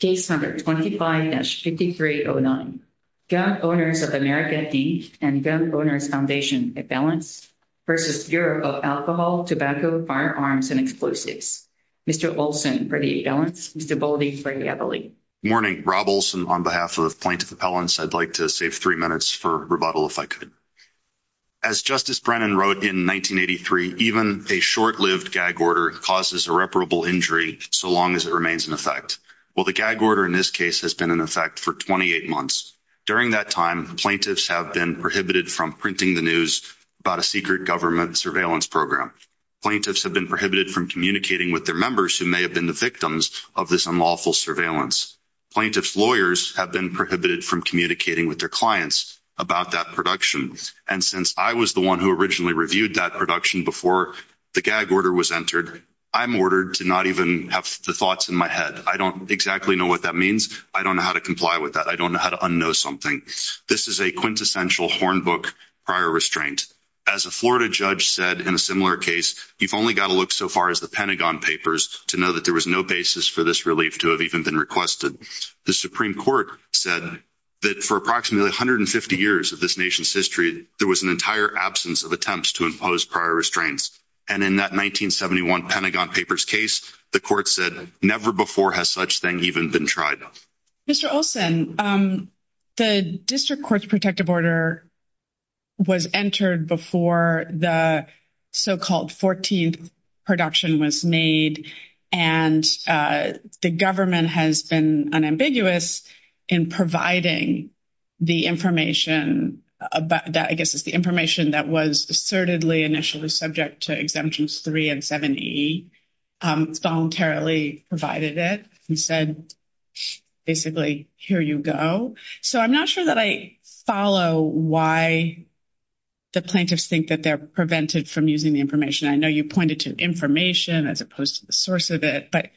Case 125-5309, Gun Owners of America, Inc. and Gun Owners Foundation Appellants v. Bureau of Alcohol, Tobacco, Firearms, and Explosives. Mr. Olson for the appellants, Mr. Boldy for the appellate. Good morning. Rob Olson on behalf of Plaintiff Appellants. I'd like to save three minutes for rebuttal if I could. As Justice Brennan wrote in 1983, even a short-lived gag order causes irreparable injury so long as it remains in effect. Well, the gag order in this case has been in effect for 28 months. During that time, plaintiffs have been prohibited from printing the news about a secret government surveillance program. Plaintiffs have been prohibited from communicating with their members who may have been the victims of this unlawful surveillance. Plaintiffs' lawyers have been prohibited from communicating with their clients about that production. And since I was the one who originally reviewed that production before the gag order was entered, I'm ordered to not even have the thoughts in my head. I don't exactly know what that means. I don't know how to comply with that. I don't know how to unknow something. This is a quintessential Hornbook prior restraint. As a Florida judge said in a similar case, you've only got to look so far as the Pentagon Papers to know that there was no basis for this relief to have even been requested. The Supreme Court said that for approximately 150 years of this nation's history, there was an entire absence of attempts to impose prior restraints. And in that 1971 Pentagon Papers case, the court said never before has such thing even been tried. Mr. Olson, the District Court's protective order was entered before the so-called 14th production was made. And the government has been unambiguous in providing the information that I guess is the information that was assertedly initially subject to Exemptions 3 and 7E. It's voluntarily provided it and said, basically, here you go. So I'm not sure that I follow why the plaintiffs think that they're prevented from using the information. I know you pointed to information as opposed to the source of it. But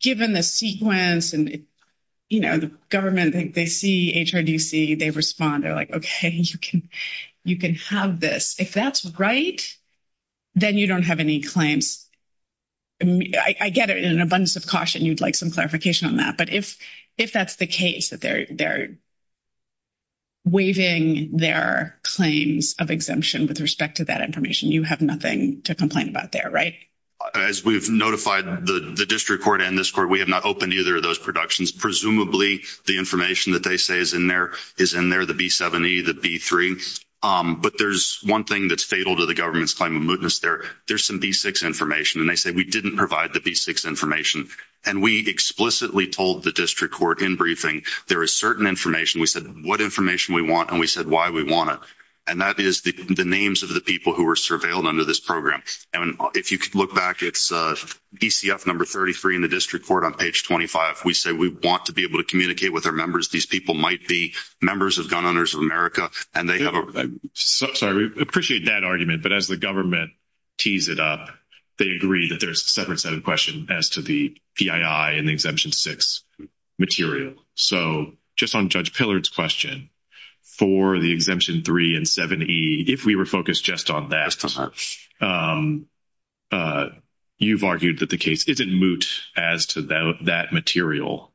given the sequence and, you know, the government, they see HRDC, they respond. They're like, okay, you can have this. If that's right, then you don't have any claims. I get it in an abundance of caution, you'd like some clarification on that. But if that's the case, that they're waiving their claims of exemption with respect to that information, you have nothing to complain about there, right? As we've notified the District Court and this court, we have not opened either of those productions. Presumably, the information that they say is in there is in there, the B7E, the B3. But there's one thing that's fatal to the government's claim of mootness there. There's some B6 information. And they say we didn't provide the B6 information. And we explicitly told the District Court in briefing there is certain information. We said what information we want, and we said why we want it. And that is the names of the people who were surveilled under this program. And if you could look back, it's DCF number 33 in the District Court on page 25. We say we want to be able to communicate with our members. These people might be members of Gun Owners of America. Sorry, we appreciate that argument. But as the government tees it up, they agree that there's a separate set of questions as to the PII and the Exemption 6 material. So just on Judge Pillard's question, for the Exemption 3 and 7E, if we were focused just on that, you've argued that the case is in moot as to that material.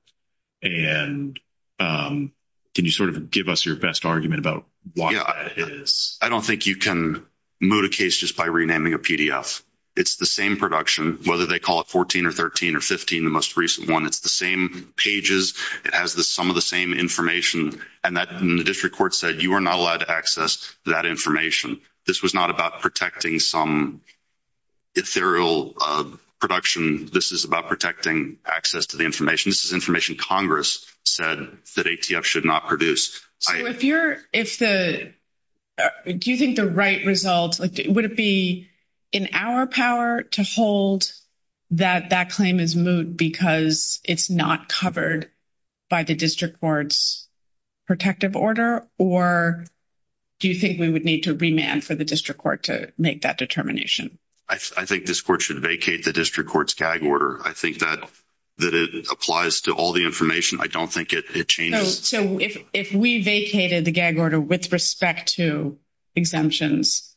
And can you sort of give us your best argument about why that is? I don't think you can moot a case just by renaming a PDF. It's the same production, whether they call it 14 or 13 or 15, the most recent one. It's the same pages. It has some of the same information. And the District Court said you are not allowed to access that information. This was not about protecting some ethereal production. This is about protecting access to the information. This is information Congress said that ATF should not produce. Do you think the right result, would it be in our power to hold that that claim is moot because it's not covered by the District Court's protective order? Or do you think we would need to remand for the District Court to make that determination? I think this court should vacate the District Court's GAG order. I think that it applies to all the information. I don't think it changes. So if we vacated the GAG order with respect to exemptions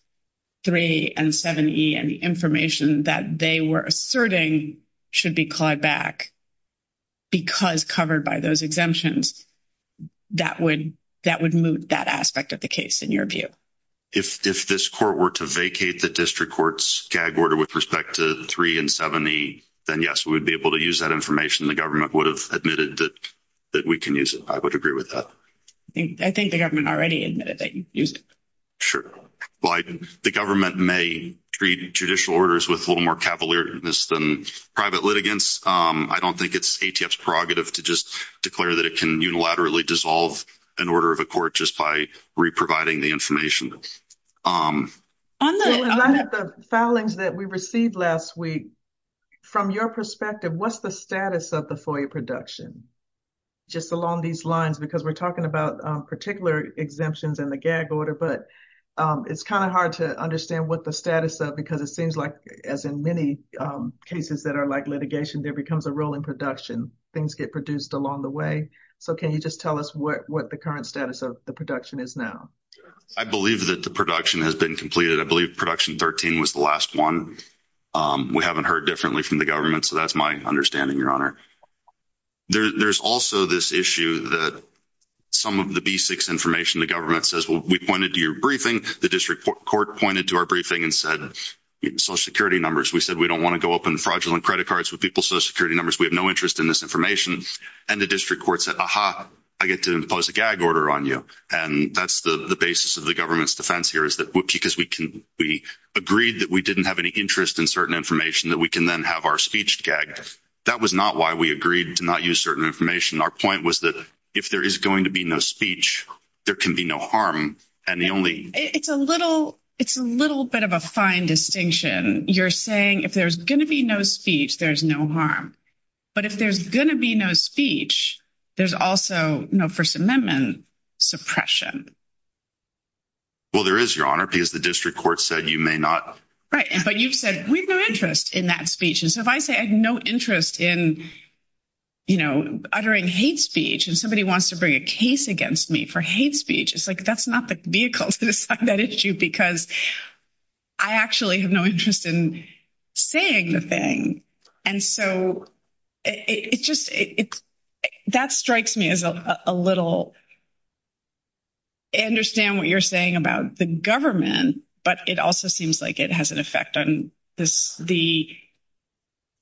3 and 7E, and the information that they were asserting should be clawed back because covered by those exemptions, that would moot that aspect of the case in your view? If this court were to vacate the District Court's GAG order with respect to 3 and 7E, then yes, we would be able to use that information. The government would have admitted that we can use it. I would agree with that. I think the government already admitted that you used it. Sure. The government may treat judicial orders with a little more cavalierness than private litigants. I don't think it's ATF's prerogative to just declare that it can unilaterally dissolve an order of a court just by re-providing the information. On the filings that we received last week, from your perspective, what's the status of the FOIA production just along these lines? Because we're talking about particular exemptions in the GAG order, but it's kind of hard to understand what the status of, because it seems like, as in many cases that are like litigation, there becomes a role in production. Things get produced along the way. So can you just tell us what the current status of the production is now? I believe that the production has been completed. I believe production 13 was the last one. We haven't heard differently from the government, so that's my understanding, Your Honor. There's also this issue that some of the B6 information, the government says, we pointed to your briefing, the district court pointed to our briefing and said social security numbers. We said we don't want to go up in fraudulent credit cards with people's social security numbers. We have no interest in this information. And the district court said, aha, I get to impose a GAG order on you. And that's the basis of the government's defense here, is that because we agreed that we didn't have any interest in certain information, that we can then have our speech GAG-ed. That was not why we agreed to not use certain information. Our point was that if there is going to be no speech, there can be no harm. It's a little bit of a fine distinction. You're saying if there's going to be no speech, there's no harm. But if there's going to be no speech, there's also no First Amendment suppression. Well, there is, Your Honor, because the district court said you may not. Right, but you've said we have no interest in that speech. And so if I say I have no interest in, you know, uttering hate speech and somebody wants to bring a case against me for hate speech, it's like that's not the vehicle to decide that issue because I actually have no interest in saying the thing. And so it just – that strikes me as a little – I understand what you're saying about the government, but it also seems like it has an effect on the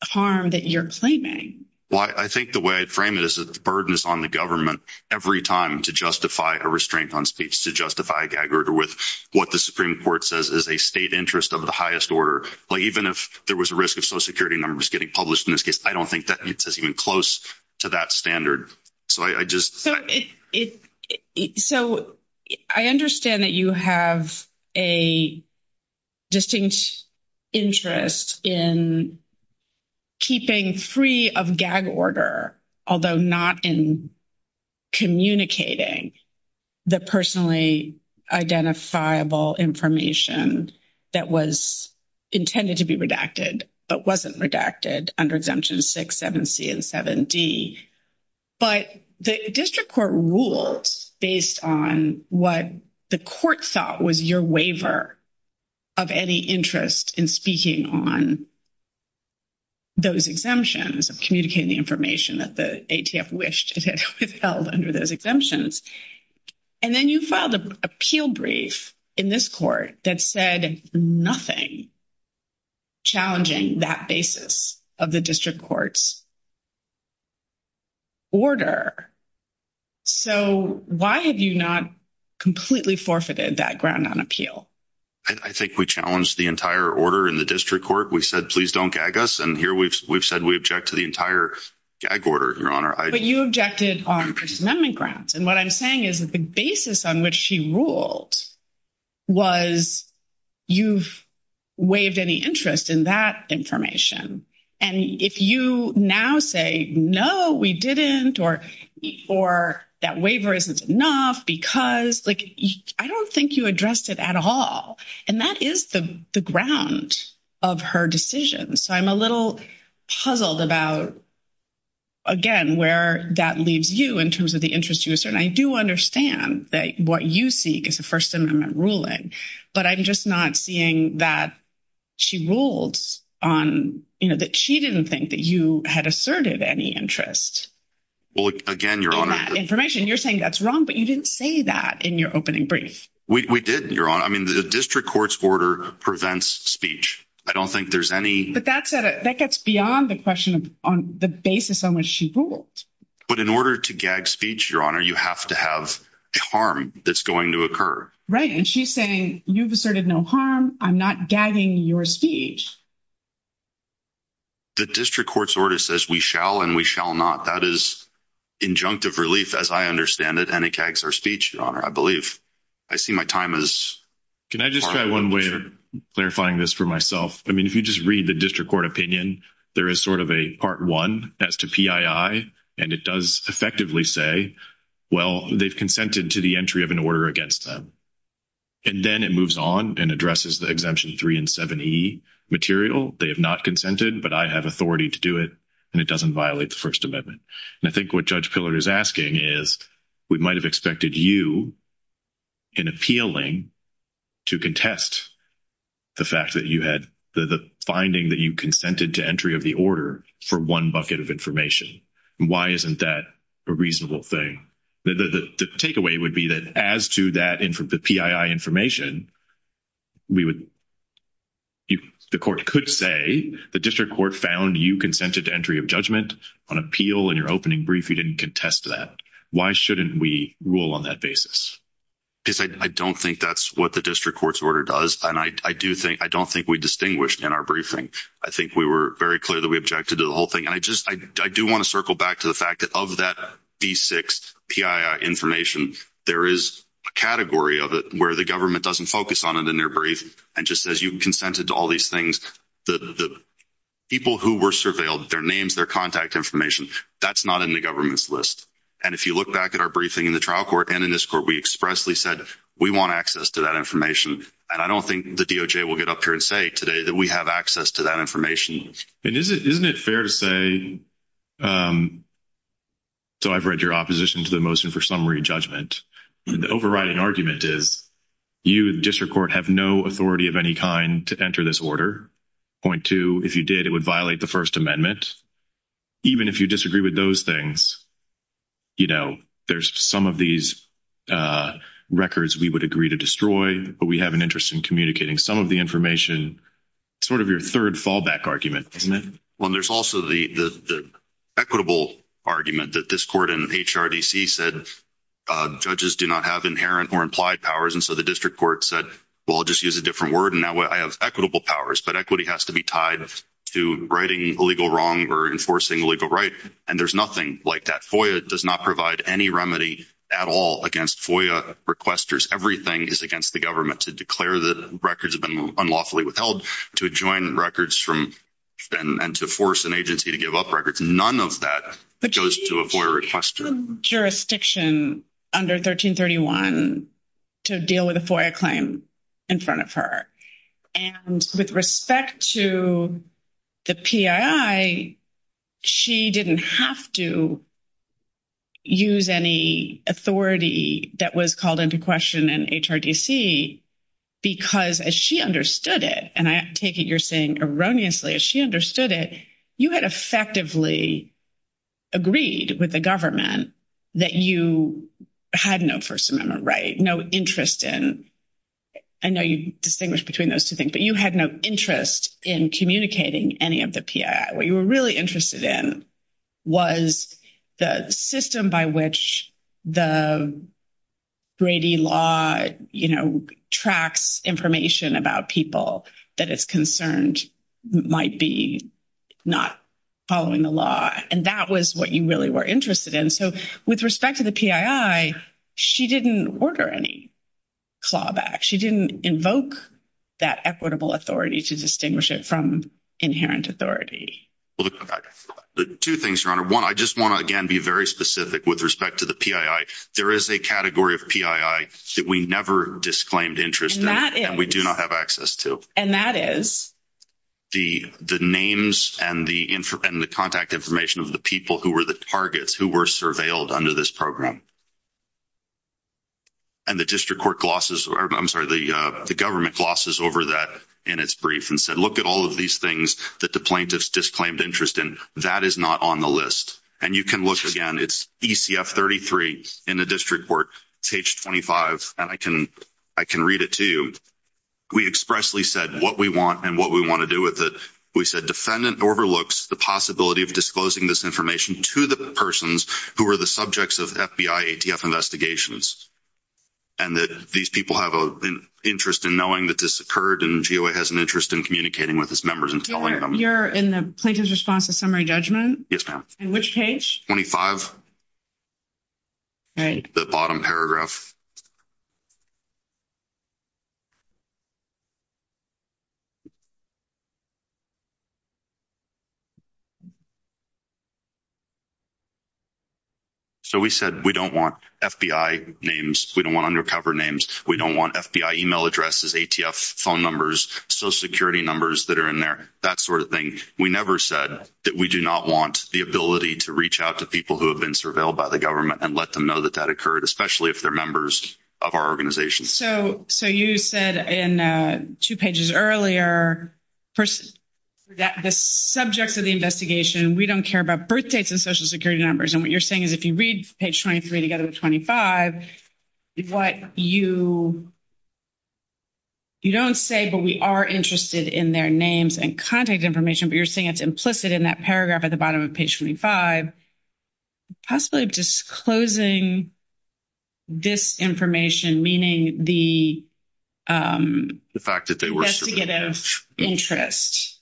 harm that you're claiming. Well, I think the way I frame it is that the burden is on the government every time to justify a restraint on speech, to justify a GAG order with what the Supreme Court says is a state interest of the highest order. Even if there was a risk of Social Security numbers getting published in this case, I don't think that it's even close to that standard. So I understand that you have a distinct interest in keeping free of GAG order, although not in communicating the personally identifiable information that was intended to be redacted but wasn't redacted under Exemption 6, 7C, and 7D. But the district court ruled based on what the court thought was your waiver of any interest in speaking on those exemptions of communicating the information that the ATF wished it had withheld under those exemptions. And then you filed an appeal brief in this court that said nothing challenging that basis of the district court's order. So why have you not completely forfeited that ground on appeal? I think we challenged the entire order in the district court. We said, please don't GAG us, and here we've said we object to the entire GAG order, Your Honor. But you objected on First Amendment grounds. And what I'm saying is that the basis on which she ruled was you've waived any interest in that information. And if you now say, no, we didn't, or that waiver isn't enough because, like, I don't think you addressed it at all. And that is the ground of her decision. So I'm a little puzzled about, again, where that leaves you in terms of the interest you assert. And I do understand that what you seek is a First Amendment ruling, but I'm just not seeing that she ruled on, you know, that she didn't think that you had asserted any interest in that information. You're saying that's wrong, but you didn't say that in your opening brief. We didn't, Your Honor. I mean, the district court's order prevents speech. I don't think there's any. But that gets beyond the question on the basis on which she ruled. But in order to gag speech, Your Honor, you have to have a harm that's going to occur. Right, and she's saying you've asserted no harm. I'm not gagging your speech. The district court's order says we shall and we shall not. That is injunctive relief, as I understand it, and it gags our speech, Your Honor, I believe. Can I just try one way of clarifying this for myself? I mean, if you just read the district court opinion, there is sort of a Part 1 as to PII, and it does effectively say, well, they've consented to the entry of an order against them. And then it moves on and addresses the Exemption 3 and 7e material. They have not consented, but I have authority to do it, and it doesn't violate the First Amendment. And I think what Judge Pillard is asking is we might have expected you in appealing to contest the fact that you had the finding that you consented to entry of the order for one bucket of information. Why isn't that a reasonable thing? The takeaway would be that as to that PII information, we would – the court could say the district court found you consented to entry of judgment on appeal in your opening brief. You didn't contest that. Why shouldn't we rule on that basis? Because I don't think that's what the district court's order does, and I don't think we distinguished in our briefing. I think we were very clear that we objected to the whole thing. And I just – I do want to circle back to the fact that of that B6 PII information, there is a category of it where the government doesn't focus on it in their brief and just says you consented to all these things. The people who were surveilled, their names, their contact information, that's not in the government's list. And if you look back at our briefing in the trial court and in this court, we expressly said we want access to that information. And I don't think the DOJ will get up here and say today that we have access to that information. And isn't it fair to say – so I've read your opposition to the motion for summary judgment. The overriding argument is you, the district court, have no authority of any kind to enter this order. Point two, if you did, it would violate the First Amendment. Even if you disagree with those things, you know, there's some of these records we would agree to destroy, but we have an interest in communicating some of the information. It's sort of your third fallback argument, isn't it? Well, and there's also the equitable argument that this court in HRDC said judges do not have inherent or implied powers, and so the district court said, well, I'll just use a different word, and that way I have equitable powers. But equity has to be tied to righting illegal wrong or enforcing legal right, and there's nothing like that. FOIA does not provide any remedy at all against FOIA requesters. Everything is against the government. To declare that records have been unlawfully withheld, to adjoin records from – and to force an agency to give up records, none of that goes to a FOIA requester. There was no jurisdiction under 1331 to deal with a FOIA claim in front of her. And with respect to the PII, she didn't have to use any authority that was called into question in HRDC because, as she understood it, and I take it you're saying erroneously, as she understood it, you had effectively agreed with the government that you had no First Amendment right, no interest in – I know you distinguish between those two things, but you had no interest in communicating any of the PII. What you were really interested in was the system by which the Brady law, you know, tracks information about people that it's concerned might be not following the law, and that was what you really were interested in. So with respect to the PII, she didn't order any clawback. She didn't invoke that equitable authority to distinguish it from inherent authority. Two things, Your Honor. One, I just want to, again, be very specific with respect to the PII. There is a category of PII that we never disclaimed interest in. And we do not have access to. And that is? The names and the contact information of the people who were the targets, who were surveilled under this program. And the district court glosses – I'm sorry, the government glosses over that in its brief and said, look at all of these things that the plaintiffs disclaimed interest in. That is not on the list. And you can look again. It's ECF 33 in the district court. It's H25. And I can read it to you. We expressly said what we want and what we want to do with it. We said defendant overlooks the possibility of disclosing this information to the persons who are the subjects of FBI ATF investigations and that these people have an interest in knowing that this occurred and GOA has an interest in communicating with its members and telling them. You're in the plaintiff's response to summary judgment? Yes, ma'am. And which page? H25. All right. The bottom paragraph. So we said we don't want FBI names. We don't want undercover names. We don't want FBI email addresses, ATF phone numbers, Social Security numbers that are in there, that sort of thing. We never said that we do not want the ability to reach out to people who have been surveilled by the government and let them know that that occurred, especially if they're members of our organization. So you said in two pages earlier that the subjects of the investigation, we don't care about birth dates and Social Security numbers. And what you're saying is if you read page 23 together with 25, what you don't say, but we are interested in their names and contact information, but you're saying it's implicit in that paragraph at the bottom of page 25, possibly disclosing this information, meaning the — The fact that they were surveilled. And the fact that you're saying that they had a negative interest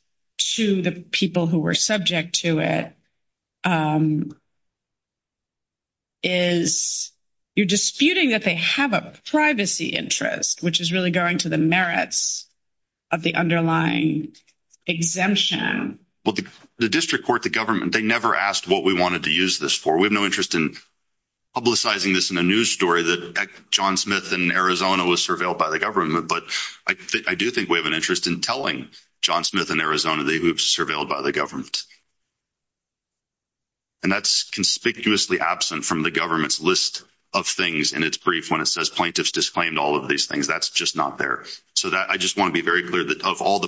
to the people who were subject to it is you're disputing that they have a privacy interest, which is really going to the merits of the underlying exemption. Well, the district court, the government, they never asked what we wanted to use this for. We have no interest in publicizing this in a news story that John Smith in Arizona was surveilled by the government. But I do think we have an interest in telling John Smith in Arizona they were surveilled by the government. And that's conspicuously absent from the government's list of things in its brief when it says plaintiffs disclaimed all of these things. That's just not there. So I just want to be very clear that of all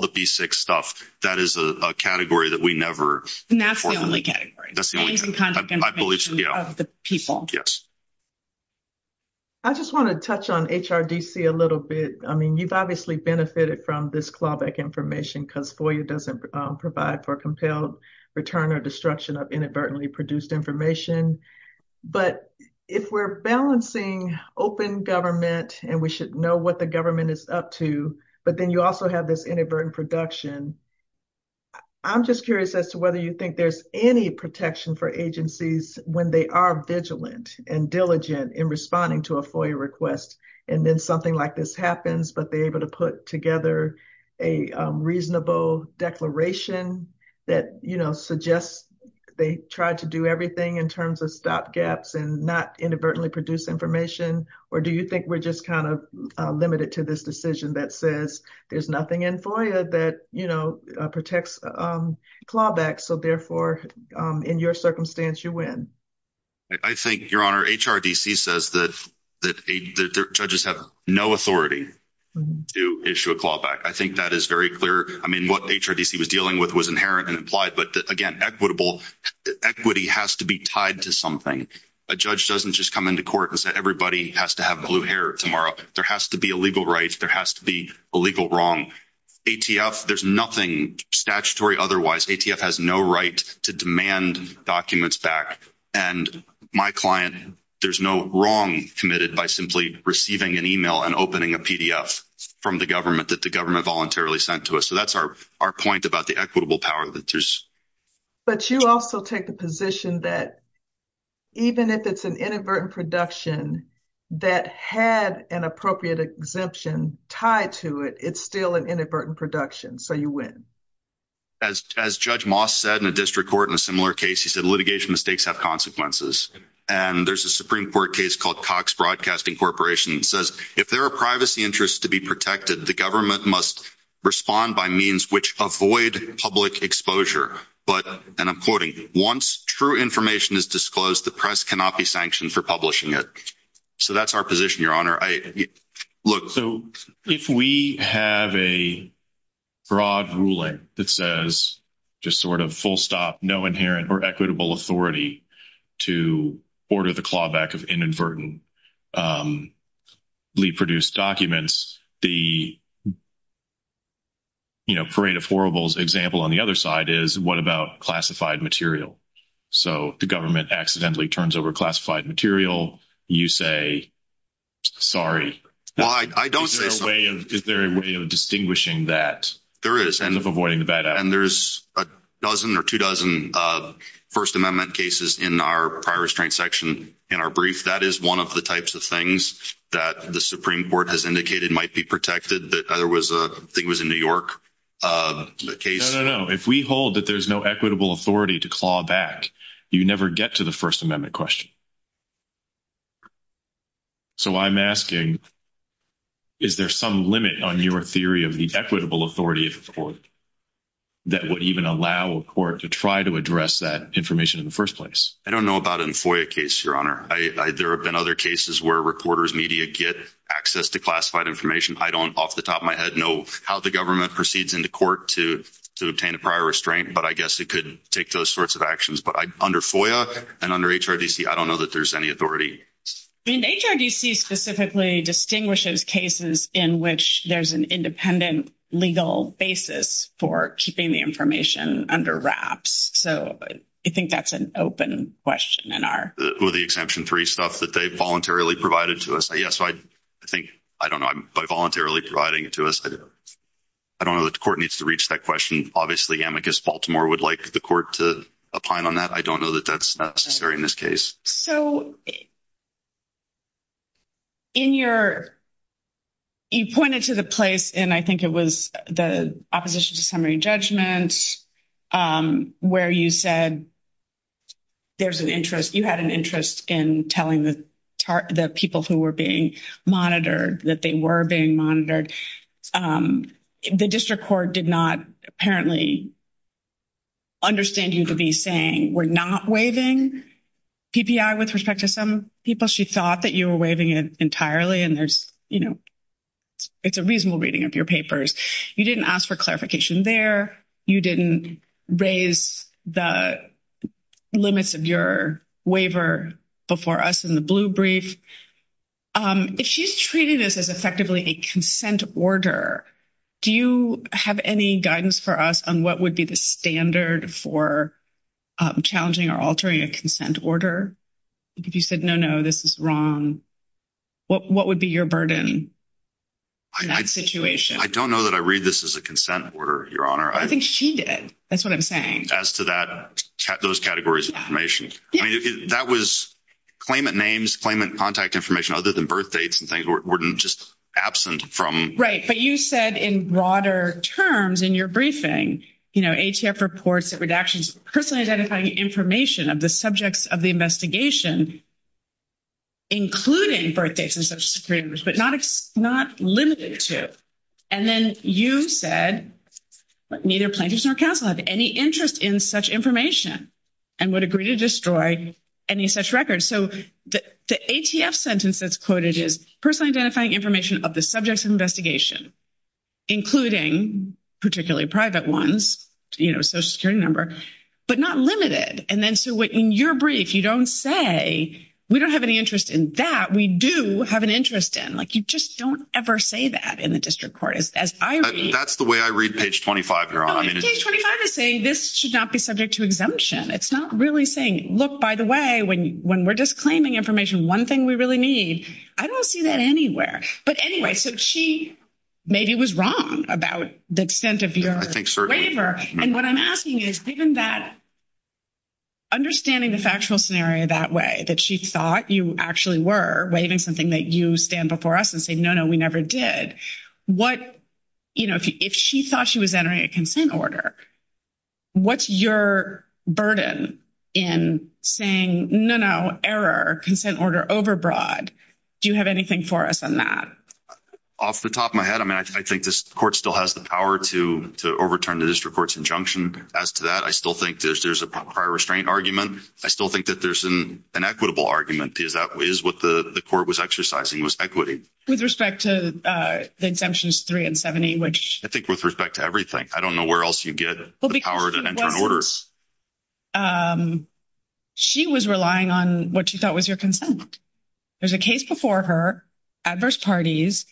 the P-6 stuff, that is a category that we never — And that's the only category. That's the only category. I believe so, yeah. The people. Yes. I just want to touch on HRDC a little bit. you've obviously benefited from this clawback information because FOIA doesn't provide for compelled return or destruction of inadvertently produced information. But if we're balancing open government and we should know what the government is up to, but then you also have this inadvertent production, I'm just curious as to whether you think there's any protection for agencies when they are vigilant and diligent in responding to a FOIA request. And then something like this happens, but they're able to put together a reasonable declaration that, you know, suggests they tried to do everything in terms of stop gaps and not inadvertently produce information. Or do you think we're just kind of limited to this decision that says there's nothing in FOIA that, you know, protects clawback. So therefore, in your circumstance, you win. I think, Your Honor, HRDC says that the judges have no authority to issue a clawback. I think that is very clear. I mean, what HRDC was dealing with was inherent and implied, but again, equitable equity has to be tied to something. A judge doesn't just come into court and say, everybody has to have blue hair tomorrow. There has to be a legal right. There has to be a legal wrong. ATF, there's nothing statutory. Otherwise ATF has no right to demand documents back. And my client, there's no wrong committed by simply receiving an email and opening a PDF from the government that the government voluntarily sent to us. So that's our point about the equitable power that there's. But you also take the position that even if it's an inadvertent production that had an appropriate exemption tied to it, it's still an inadvertent production. So you win. As Judge Moss said in a district court in a similar case, he said litigation mistakes have consequences. And there's a Supreme Court case called Cox Broadcasting Corporation. It says if there are privacy interests to be protected, the government must respond by means which avoid public exposure. and I'm quoting, once true information is disclosed, the press cannot be sanctioned for publishing it. So that's our position, Your Honor. So if we have a broad ruling that says just sort of full stop, no inherent or equitable authority to order the clawback of inadvertently produced documents, the parade of horribles example on the other side is what about classified material? So the government accidentally turns over classified material. You say, sorry. I don't say so. Is there a way of distinguishing that? There is of avoiding the bad. And there's a dozen or two dozen First Amendment cases in our prior restraint section. In our brief, that is one of the types of things that the Supreme Court has indicated might be protected. That there was a thing was in New York case. No, if we hold that there's no equitable authority to claw back, you never get to the First Amendment question. So I'm asking. Is there some limit on your theory of the equitable authority of the court that would even allow a court to try to address that information in the first place? I don't know about in FOIA case, I, there have been other cases where reporters media get access to classified information. I don't off the top of my head know how the government proceeds into court to, to obtain a prior restraint, but I guess it could take those sorts of actions. But I, under FOIA and under HRDC, I don't know that there's any authority. HRDC specifically distinguishes cases in which there's an independent legal basis for keeping the information under wraps. So I think that's an open question. And are the exemption three stuff that they voluntarily provided to us? I guess I think, I don't know. I'm voluntarily providing it to us. I don't know that the court needs to reach that question. Obviously amicus Baltimore would like the court to opine on that. I don't know that that's necessary in this case. So. In your, you pointed to the place, and I think it was the opposition to summary judgment where you said, there's an interest. You had an interest in telling the people who were being monitored that they were being monitored. The district court did not apparently. Understand you to be saying we're not waving PPI with respect to some people. She thought that you were waving it entirely and there's, it's a reasonable reading of your papers. You didn't ask for clarification there. You didn't raise the limits of your waiver before us in the blue brief. If she's treating this as effectively a consent order, do you have any guidance for us on what would be the standard for challenging or altering a consent order? If you said, no, no, this is wrong. What would be your burden? I situation. I don't know that I read this as a consent order, your honor. I think she did. That's what I'm saying. As to that, those categories of information that was claimant names, claimant contact information, other than birth dates and things were just absent from, right. But you said in broader terms in your briefing, you know, ATF reports that redactions personally identifying information of the subjects of the investigation, including birth dates and such screeners, but not, it's not limited to. And then you said neither plaintiffs nor council have any interest in such information and would agree to destroy any such records. So the ATF sentence that's quoted is personally identifying information of the subjects of investigation, including particularly private ones, you know, social security number, but not limited. And then, so what in your brief, you don't say, we don't have any interest in that. We do have an interest in like, you just don't ever say that in the district court is as I read, that's the way I read page 25. You're on page 25 is saying this should not be subject to exemption. It's not really saying, look, by the way, when, when we're just claiming information, one thing we really need, I don't see that anywhere. But anyway, so she maybe was wrong about the extent of your waiver. And what I'm asking is given that understanding the factual scenario, that way that she thought you actually were waving something that you stand before us and say, no, no, we never did. What, you know, if, if she thought she was entering a consent order, what's your burden in saying no, no error, consent order overbroad. Do you have anything for us on that? Off the top of my head. I mean, I think this court still has the power to overturn the district court's injunction as to that. I still think there's, there's a prior restraint argument. I still think that there's an equitable argument is that is what the court was exercising was equity with respect to the exemptions three and 70, which I think with respect to everything, I don't know where else you get the power to enter an order. She was relying on what you thought was your consent. There's a case before her adverse parties,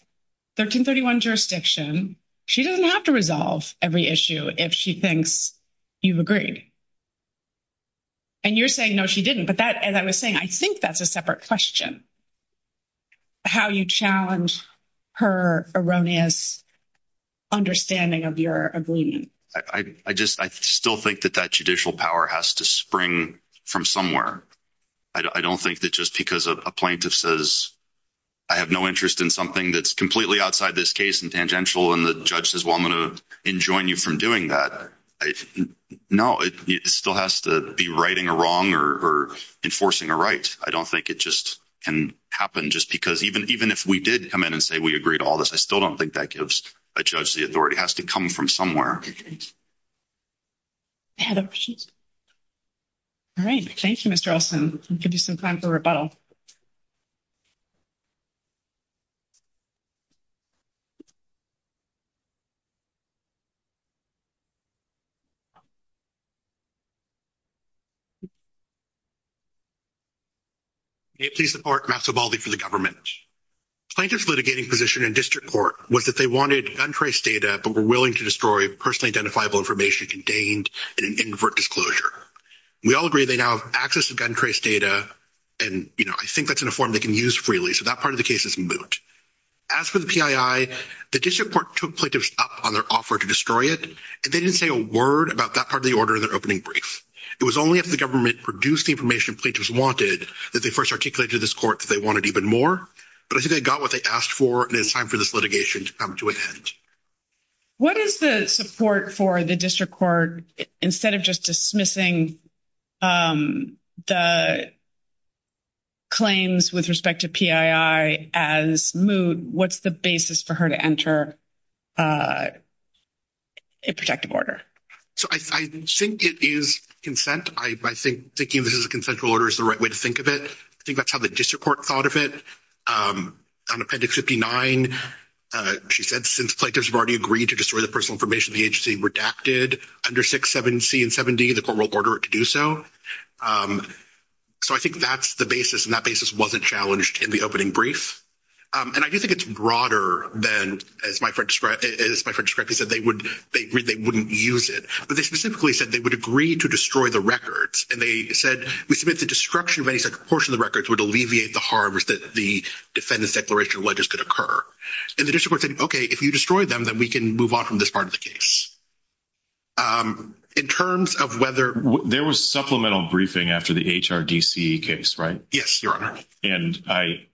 1331 jurisdiction. She doesn't have to resolve every issue if she thinks you've agreed. And you're saying, no, she didn't. But that, as I was saying, I think that's a separate question, how you challenge her erroneous understanding of your agreement. I just, I still think that that judicial power has to spring from somewhere. I don't think that just because a plaintiff says, I have no interest in something that's completely outside this case and tangential. And the judge says, well, I'm going to enjoin you from doing that. I know it still has to be writing a wrong or enforcing a right. I don't think it just can happen just because even, even if we did come in and say, we agree to all this, I still don't think that gives a judge. The authority has to come from somewhere. All right. Thank you, Mr. Olson. Give you some time for rebuttal. Please support for the government plaintiff's litigating position in district court was that they wanted gun trace data, but we're willing to destroy personally identifiable information contained in an invert disclosure. We all agree. They now have access to gun trace data. And, you know, I think that's in a form they can use freely. So that part of the case is moot. As for the PII, the district court took plaintiffs up on their offer to destroy it. And they didn't say a word about that part of the order of their opening brief. It was only if the government produced the information plaintiffs wanted that they first articulated to this court that they wanted even more, but I think they got what they asked for and it's time for this litigation to come to an end. What is the support for the district court instead of just dismissing the claims with respect to PII as moot? What's the basis for her to enter a protective order? So I think it is consent. I think thinking of this as a consensual order is the right way to think of it. I think that's how the district court thought of it. On Appendix 59, she said, since plaintiffs have already agreed to destroy the personal information, the agency redacted under 67C and 70, the court will order it to do so. So I think that's the basis. And that basis wasn't challenged in the opening brief. And I do think it's broader than, as my friend described, as my friend described, he said they would, they wouldn't use it, but they specifically said they would agree to destroy the records. And they said, we submit the destruction of any such portion of the records would alleviate the harms that the defendant's declaration of allegiance could occur. And the district court said, okay, if you destroy them, then we can move on from this part of the case. In terms of whether there was supplemental briefing after the HRDC case, right? Yes, Your Honor. And I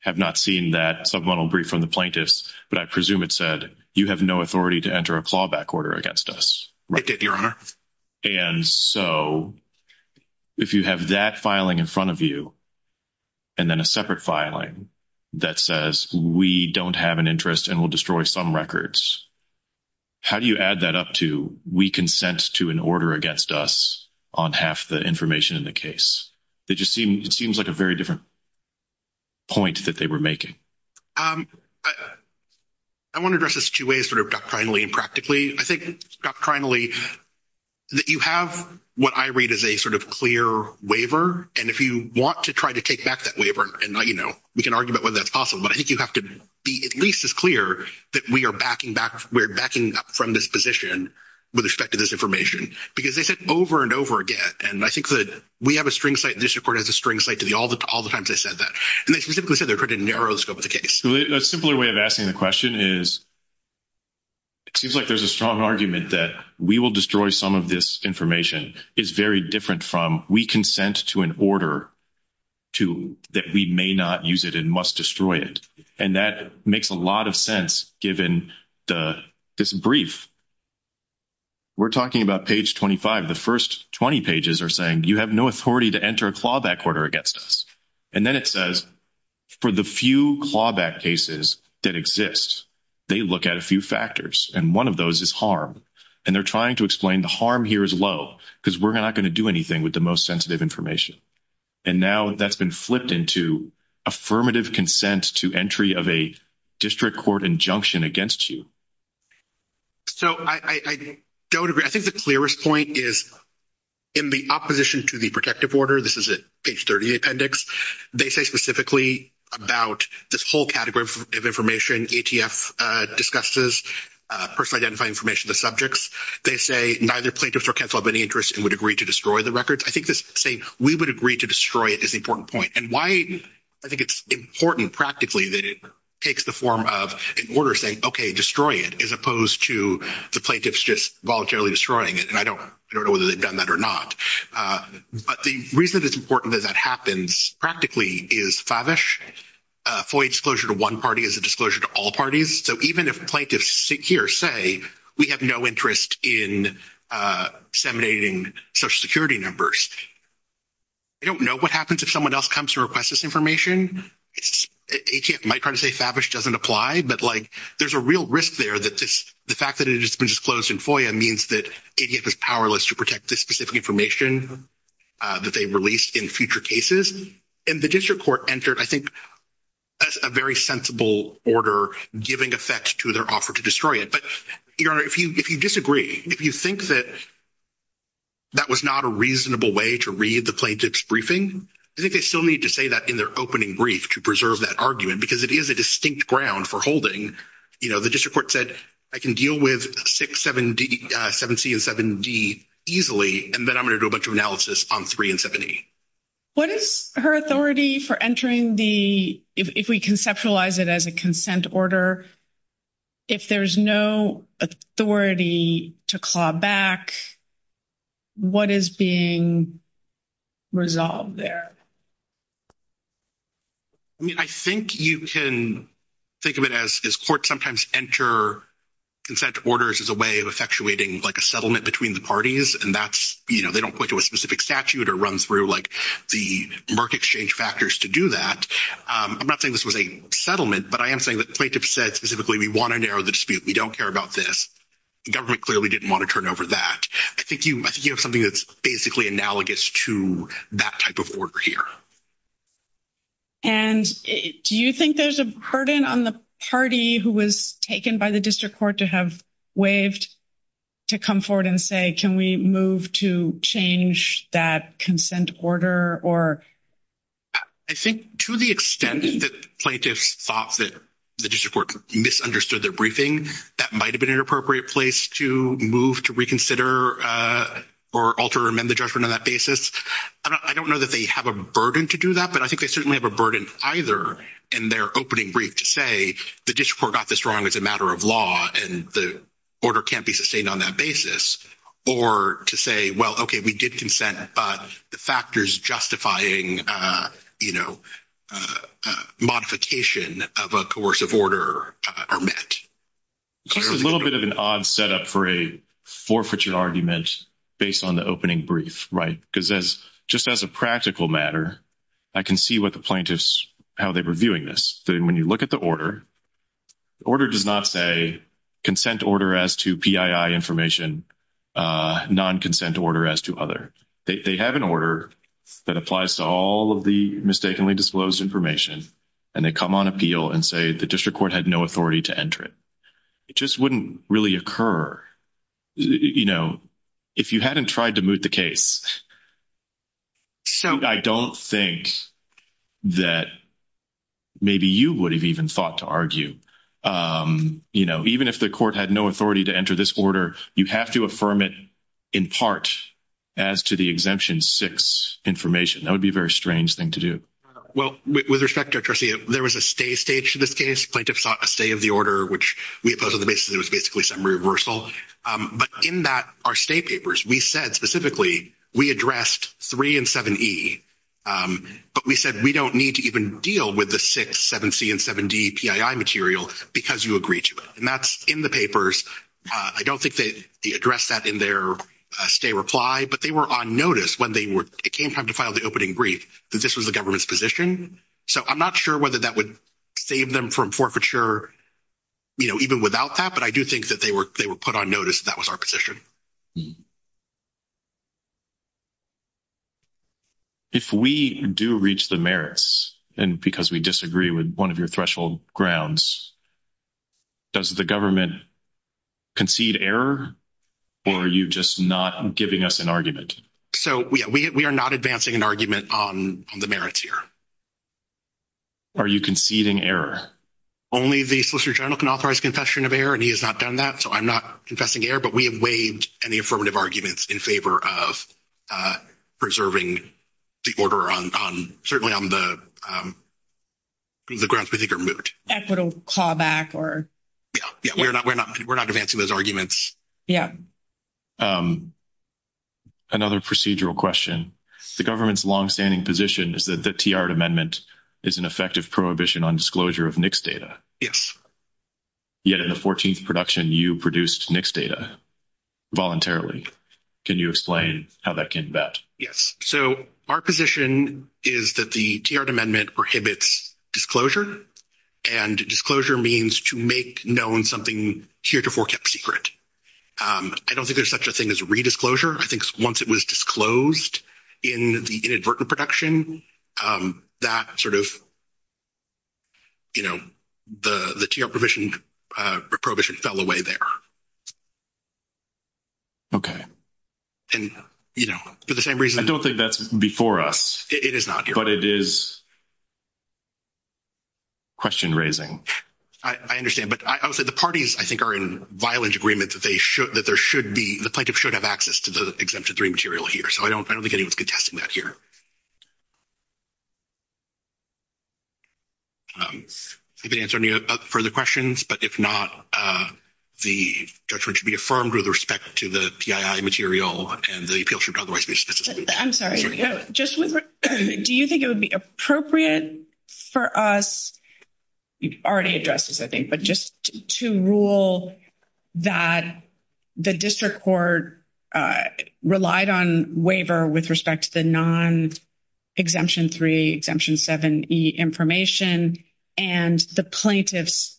have not seen that supplemental brief from the plaintiffs, but I presume it said you have no authority to enter a clawback order against us. It did, Your Honor. And so if you have that filing in front of you, and then a separate filing that says we don't have an interest and we'll destroy some records, how do you add that up to, we consent to an order against us on half the information in the case? It just seems like a very different point that they were making. I want to address this two ways, sort of doctrinally and practically. I think doctrinally that you have what I read as a sort of clear waiver. And if you want to try to take back that waiver and not, you know, we can argue about whether that's possible, but I think you have to be at least as clear that we are backing up from this position with respect to this information, because they said over and over again. And I think that we have a string site, the district court has a string site to all the times they said that. And they specifically said they were trying to narrow the scope of the case. So a simpler way of asking the question is it seems like there's a strong argument that we will destroy some of this information is very different from we consent to an order that we may not use it and must destroy it. And that makes a lot of sense given this brief. We're talking about page 25, the first 20 pages are saying, you have no authority to enter a clawback order against us. And then it says for the few clawback cases that exist, they look at a few factors and one of those is harm. And they're trying to explain the harm here is low because we're not going to do anything with the most sensitive information. And now that's been flipped into affirmative consent to entry of a district court injunction against you. So I don't agree. I think the clearest point is in the opposition to the protective order, this is at page 30 of the appendix, they say specifically about this whole category of information ATF discusses, personal identifying information of the subjects. They say neither plaintiffs or counsel have any interest and would agree to destroy the records. I think this saying we would agree to destroy it is the important point. And why I think it's important practically that it takes the form of an order saying, okay, destroy it, as opposed to the plaintiffs just voluntarily destroying it. And I don't know whether they've done that or not. But the reason that it's important that that happens practically is Favish, FOIA disclosure to one party is a disclosure to all parties. So even if plaintiffs sit here, say we have no interest in disseminating social security numbers, I don't know what happens if someone else comes and requests this ATF might try to say Favish doesn't apply, but like there's a real risk there that the fact that it has been disclosed in FOIA means that ATF is powerless to protect this specific information that they released in future cases. And the district court entered, I think, a very sensible order giving effect to their offer to destroy it. But if you disagree, if you think that that was not a reasonable way to read the plaintiff's I think they still need to say that in their opening brief to preserve that argument, because it is a distinct ground for holding, you know, the district court said I can deal with 6, 7C and 7D easily. And then I'm going to do a bunch of analysis on 3 and 7E. What is her authority for entering the, if we conceptualize it as a consent order, if there's no authority to claw back, what is being resolved there? I mean, I think you can think of it as court sometimes enter consent orders as a way of effectuating like a settlement between the parties. And that's, you know, they don't point to a specific statute or run through like the Merck exchange factors to do that. I'm not saying this was a settlement, but I am saying that plaintiff said specifically, we want to narrow the dispute. We don't care about this. The government clearly didn't want to turn over that. I think you, I think you have something that's basically analogous to that type of order here. And do you think there's a burden on the party who was taken by the district court to have waived to come forward and say, can we move to change that consent order? Or. I think to the extent that plaintiffs thought that the district court misunderstood their briefing, that might've been an appropriate place to move to reconsider or alter or amend the judgment on that basis. I don't know that they have a burden to do that, but I think they certainly have a burden either. And their opening brief to say, the district court got this wrong as a matter of law and the order can't be sustained on that basis or to say, well, okay, we did consent, but the factors justifying, you know, modification of a coercive order are met. A little bit of an odd setup for a forfeiture argument based on the opening brief. Right. Because as just as a practical matter, I can see what the plaintiffs, how they were viewing this. Then when you look at the order, the order does not say consent order as to PII information, a non-consent order as to other, they have an order that applies to all of the mistakenly disclosed information and they come on appeal and say the district court had no authority to enter it. It just wouldn't really occur. You know, if you hadn't tried to moot the case, I don't think that maybe you would have even thought to argue, you know, even if the court had no authority to enter this order, you have to affirm it in part as to the exemption six information. That would be a very strange thing to do. Well, with respect to our trustee, there was a stay stage to this case. Plaintiffs sought a stay of the order, which we opposed on the basis that it was basically some reversal. But in that our state papers, we said specifically we addressed three and seven E, but we said, we don't need to even deal with the six seven C and seven D PII material because you agree to it. And that's in the papers. I don't think that the address that in their stay reply, but they were on notice when they were, it came time to file the opening brief that this was the government's position. So I'm not sure whether that would save them from forfeiture, you know, even without that, but I do think that they were, they were put on notice that that was our position. If we do reach the merits and because we disagree with one of your threshold grounds, does the government concede error? Or are you just not giving us an argument? So we are not advancing an argument on the merits here. Are you conceding error? Only the Solicitor General can authorize confession of error, and he has not done that. So I'm not confessing error, but we have waived any affirmative arguments in favor of preserving the order on, certainly on the grounds we think are moot. Equitable callback or. Yeah, we're not advancing those arguments. Yeah. Another procedural question. The government's longstanding position is that the TR amendment is an effective prohibition on disclosure of NICS data. Yet in the 14th production, you produced NICS data voluntarily. Can you explain how that came about? Yes. So our position is that the TR amendment prohibits disclosure, and disclosure means to make known something here to forecast secret. I don't think there's such a thing as a redisclosure. I think once it was disclosed in the inadvertent production, that sort of, you know, the TR prohibition fell away there. Okay. And, you know, for the same reason. I don't think that's before us. It is not. But it is question raising. I understand. But I would say the parties, I think, are in violent agreement that they should, that there should be, the plaintiff should have access to the Exemption 3 material here. So I don't think anyone's contesting that here. If it answers any further questions, but if not, the judgment should be affirmed with respect to the PII material, and the appeal should otherwise be suspended. I'm sorry. Do you think it would be appropriate for us, you've already addressed this, I think, but just to rule that the district court relied on waiver with respect to the non-Exemption 3, Exemption 7e information, and the plaintiffs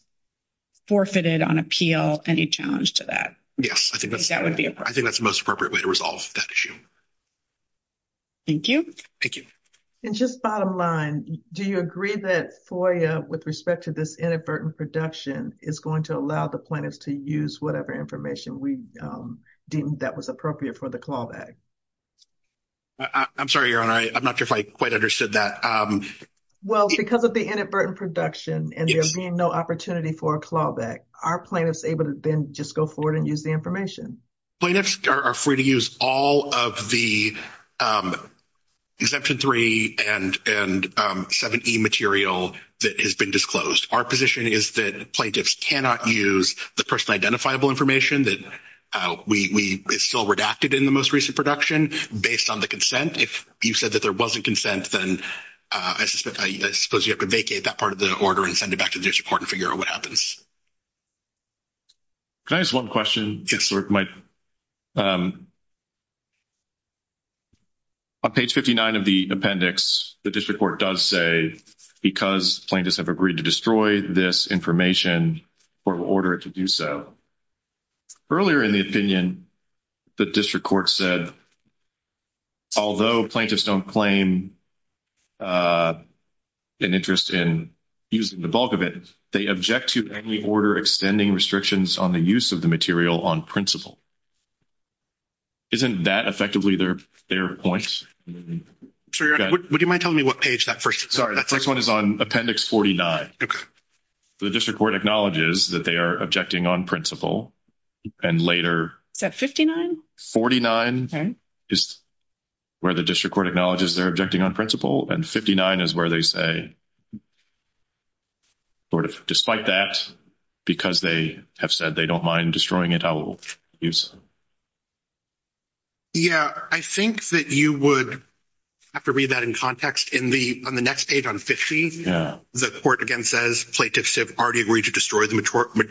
forfeited on appeal any challenge to that? Yes. I think that's the most appropriate way to resolve that issue. Thank you. Thank you. And just bottom line, do you agree that FOIA with respect to this inadvertent production is going to allow the plaintiffs to use whatever information we deemed that was appropriate for the clawback? I'm sorry, Your Honor. I'm not sure if I quite understood that. Well, because of the inadvertent production, and there being no opportunity for a clawback, are plaintiffs able to then just go forward and use the information? Plaintiffs are free to use all of the Exemption 3 and 7e material that has been disclosed. Our position is that plaintiffs cannot use the person identifiable information that is still redacted in the most recent production based on the consent. If you said that there wasn't consent, then I suppose you have to vacate that part of the order and send it back to the district court and figure out what happens. Can I ask one question? Yes, sir. On page 59 of the appendix, the district court does say because plaintiffs have agreed to destroy this information, court will order it to do so. Earlier in the opinion, the district court said although plaintiffs don't claim an interest in using the bulk of it, they object to any order extending restrictions on the use of the material on principle. Isn't that effectively their point? Would you mind telling me what page that first is? Sorry, the first one is on appendix 49. The district court acknowledges that they are objecting on principle, and later. Is that 59? 49 is where the district court acknowledges they're objecting on principle, and 59 is where they say sort of despite that, because they have said they don't mind destroying it, I will use. Yeah, I think that you would have to read that in context. On the next page on 50, the court, again, says plaintiffs have already agreed to destroy the majority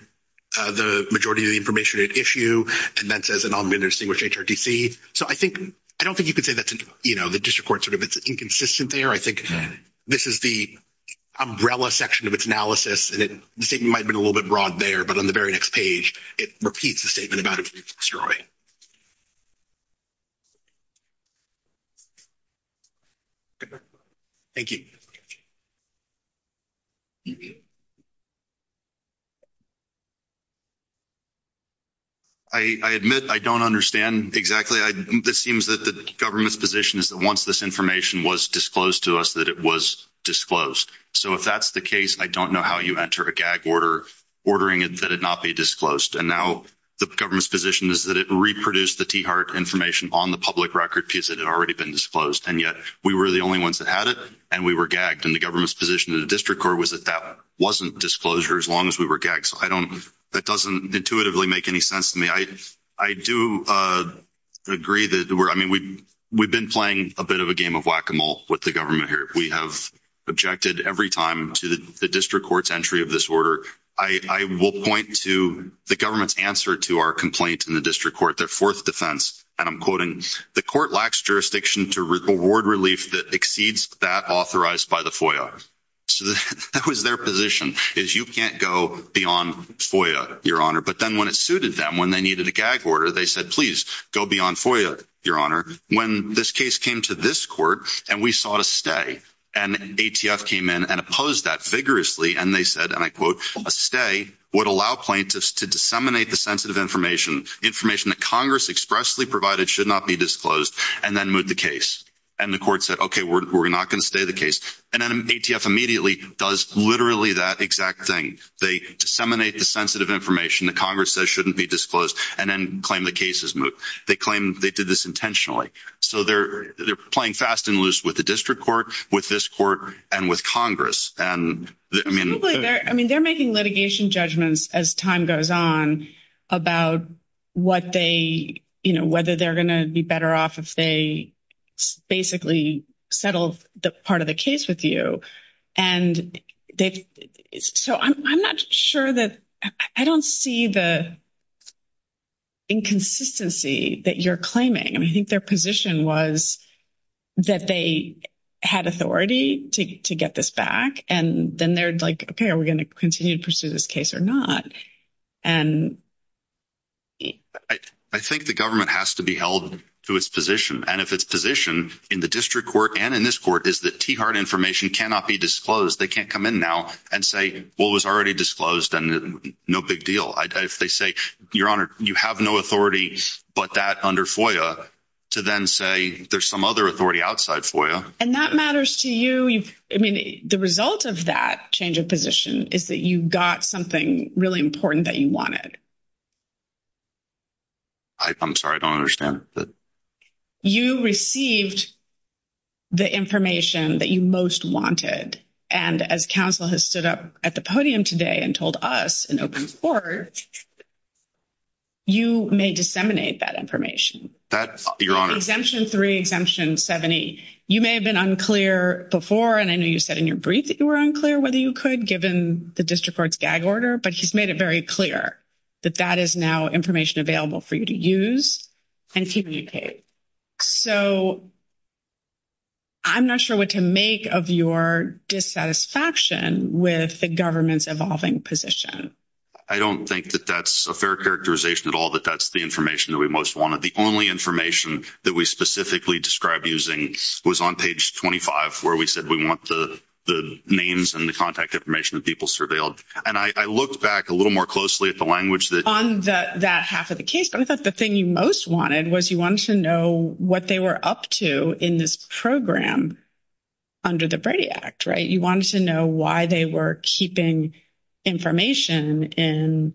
of the information at issue, and that says an omnibus to distinguish HRTC. So I don't think you could say that's, you know, the district court sort of it's inconsistent there. I think this is the umbrella section of its analysis, and it might've been a little bit broad there, but on the very next page, it repeats the statement about it. Thank you. I admit, I don't understand exactly. This seems that the government's position is that once this information was disclosed to us, that it was disclosed. So if that's the case, I don't know how you enter a gag order, ordering it that it not be disclosed. And now the government's position is that it reproduced the T heart information on the public record piece that had already been disclosed. And yet we were the only ones that had it, and we were gagged. And the government's position in the district court was that that wasn't disclosure as long as we were gagged. So I don't, that doesn't intuitively make any sense to me. I do agree that we're, I mean, we've been playing a bit of a game of whack-a-mole with the government here. We have objected every time to the district court's entry of this order. I will point to the government's answer to our complaint in the district court, their fourth defense. And I'm quoting the court lacks jurisdiction to reward relief that exceeds that authorized by the FOIA. So that was their position is you can't go beyond FOIA, your honor. But then when it suited them, when they needed a gag order, they said, please go beyond FOIA, your honor. When this case came to this court and we sought a stay and ATF came in and opposed that vigorously. And they said, and I quote, a stay would allow plaintiffs to disseminate the sensitive information information that Congress expressly provided should not be disclosed and then move the case. And the court said, okay, we're, we're not going to stay the case. And then ATF immediately does literally that exact thing. They disseminate the sensitive information that Congress says shouldn't be disclosed and then claim the cases. They claim they did this intentionally. So they're, they're playing fast and loose with the district court, with this court and with Congress. And I mean, I mean, they're making litigation judgments as time goes on about what they, whether they're going to be better off if they basically settle the part of the case with you. And they, so I'm, I'm not sure that I don't see the inconsistency that you're claiming. I mean, I think their position was that they had authority to get this back. And then they're like, okay, are we going to continue to pursue this case or not? I think the government has to be held to its position. And if it's position in the district court and in this court is that key card information cannot be disclosed, they can't come in now and say, well, it was already disclosed and no big deal. If they say your honor, you have no authority, but that under FOIA to then say, there's some other authority outside FOIA. And that matters to you. I mean, the result of that change of position is that you got something really important that you wanted. I'm sorry. I don't understand that. You received the information that you most wanted. And as counsel has stood up at the podium today and told us in open court, you may disseminate that information. That's your honor exemption three exemption 70. You may have been unclear before. And I know you said in your brief that you were unclear whether you could given the district court's gag order, but he's made it very clear that that is now information available for you to use and communicate. So. I'm not sure what to make of your dissatisfaction with the government's evolving position. I don't think that that's a fair characterization at all, that that's the information that we most wanted. The only information that we specifically described using was on page 25, where we said we want the, the names and the contact information that people surveilled. And I looked back a little more closely at the language that. On the, that half of the case, but I thought the thing you most wanted was you wanted to know what they were up to in this program under the Brady act, right? You wanted to know why they were keeping information in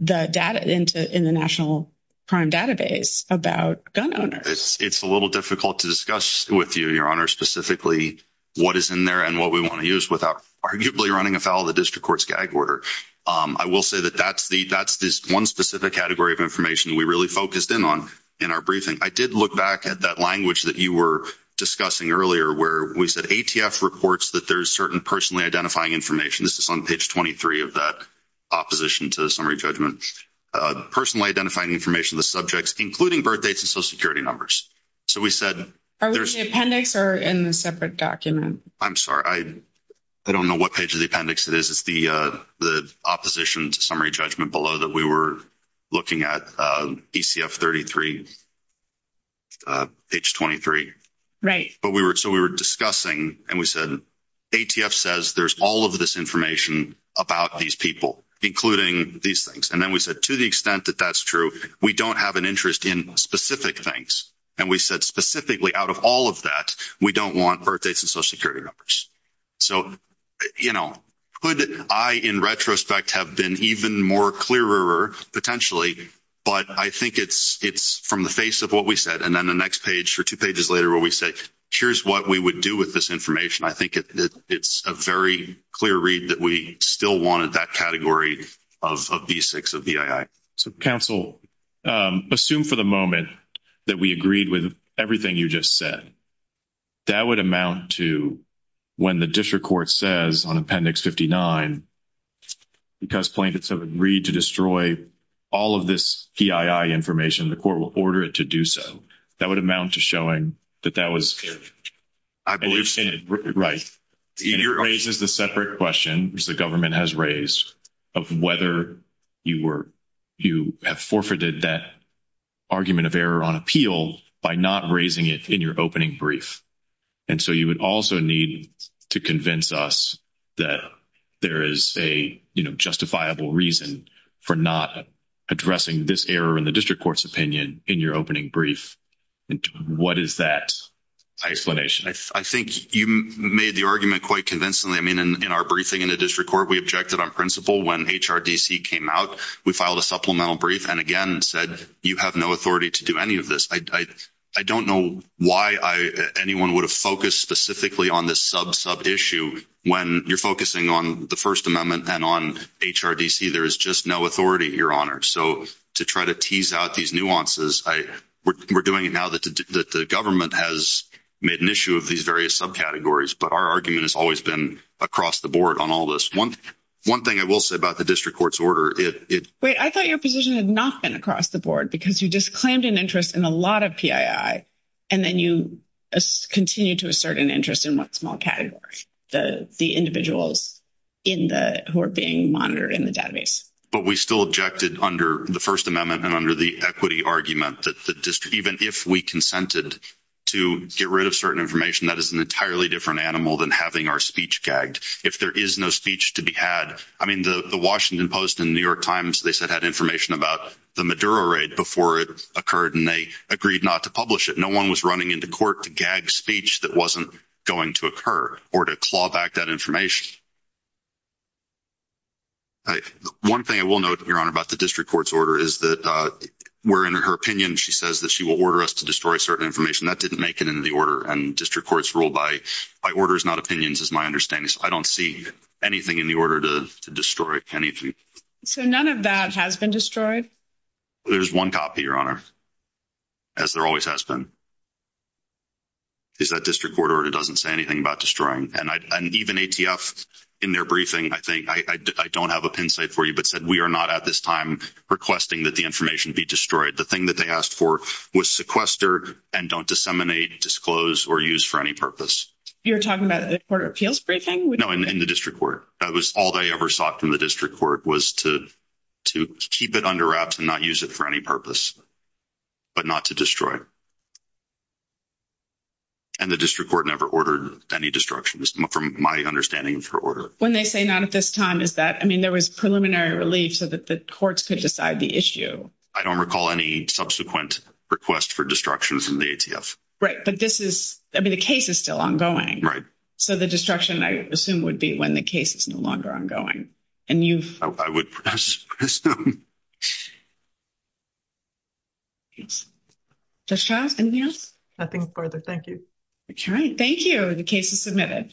the data into, in the national prime database about gun owners. It's a little difficult to discuss with you, your honor, specifically what is in there and what we want to use without arguably running afoul of the district court's gag order. I will say that that's the, that's this one specific category of information that we really focused in on in our briefing. I did look back at that language that you were discussing earlier, where we said ATF reports that there's certain personally identifying information. This is on page 23 of that opposition to the summary judgment, personally identifying information, the subjects, including birthdates and social security numbers. So we said. Are we in the appendix or in the separate document? I'm sorry. I don't know what page of the appendix it is. It's the the opposition to summary judgment below that we were looking at ECF 33. Page 23. But we were, so we were discussing and we said, ATF says there's all of this information about these people, including these things. And then we said, to the extent that that's true, we don't have an interest in specific things. And we said specifically out of all of that, we don't want birthdates and social security numbers. So, you know, could I, in retrospect, have been even more clearer potentially, but I think it's from the face of what we said. And then the next page or two pages later where we say, here's what we would do with this information. I think it's a very clear read that we still wanted that category of B6, of BII. So council, assume for the moment that we agreed with everything you just said. That would amount to when the district court says on appendix 59, because plaintiffs have agreed to destroy all of this BII information, the court will order it to do so. That would amount to showing that that was. I believe. Right. It raises the separate question, which the government has raised of whether you were, you have forfeited that argument of error on appeal by not raising it in your opening brief. And so you would also need to convince us that there is a, you know, justifiable reason for not addressing this error in the district court's opinion in your opening brief. What is that explanation? I think you made the argument quite convincingly. I mean, in our briefing in the district court, we objected on principle when HRDC came out, we filed a supplemental brief and again said, you have no authority to do any of this. I don't know why I, anyone would have focused specifically on this sub sub issue when you're focusing on the first amendment and on HRDC, there is just no authority, your honor. So to try to tease out these nuances, we're doing it now that the government has made an issue of these various subcategories, but our argument has always been across the board on all this. One, one thing I will say about the district court's order. Wait, I thought your position had not been across the board because you just claimed an interest in a lot of PII. And then you continue to assert an interest in what small category, the, the individuals in the, who are being monitored in the database. But we still objected under the first amendment and under the equity argument that the district, even if we consented to get rid of certain information, that is an entirely different animal than having our speech gagged. If there is no speech to be had, I mean, the Washington post in New York times, they said had information about the Maduro raid before it occurred. And they agreed not to publish it. No one was running into court to gag speech. That wasn't going to occur or to claw back that information. One thing I will note your honor about the district court's order is that we're in her opinion. She says that she will order us to destroy certain information that didn't make it into the order. And district courts rule by by orders, not opinions is my understanding. So I don't see anything in the order to destroy anything. So none of that has been destroyed. There's one copy your honor. As there always has been. Is that district court or it doesn't say anything about destroying. And I, and even ATF in their briefing, I think I, I don't have a pin site for you, but said we are not at this time requesting that the information be destroyed. The thing that they asked for was sequester and don't disseminate, or use for any purpose. You're talking about the court appeals briefing. No, in the district court. That was all they ever sought from the district court was to, to keep it under wraps and not use it for any purpose, but not to destroy. And the district court never ordered any destruction from my understanding for order. When they say not at this time, is that, I mean, there was preliminary relief so that the courts could decide the issue. I don't recall any subsequent request for destructions in the ATF. Right. But this is, I mean, the case is still ongoing, right? So the destruction, I assume would be when the case is no longer ongoing. And you've, I would press. Yes, that's Charles. And yes, I think further. Thank you. All right. Thank you. The case is submitted.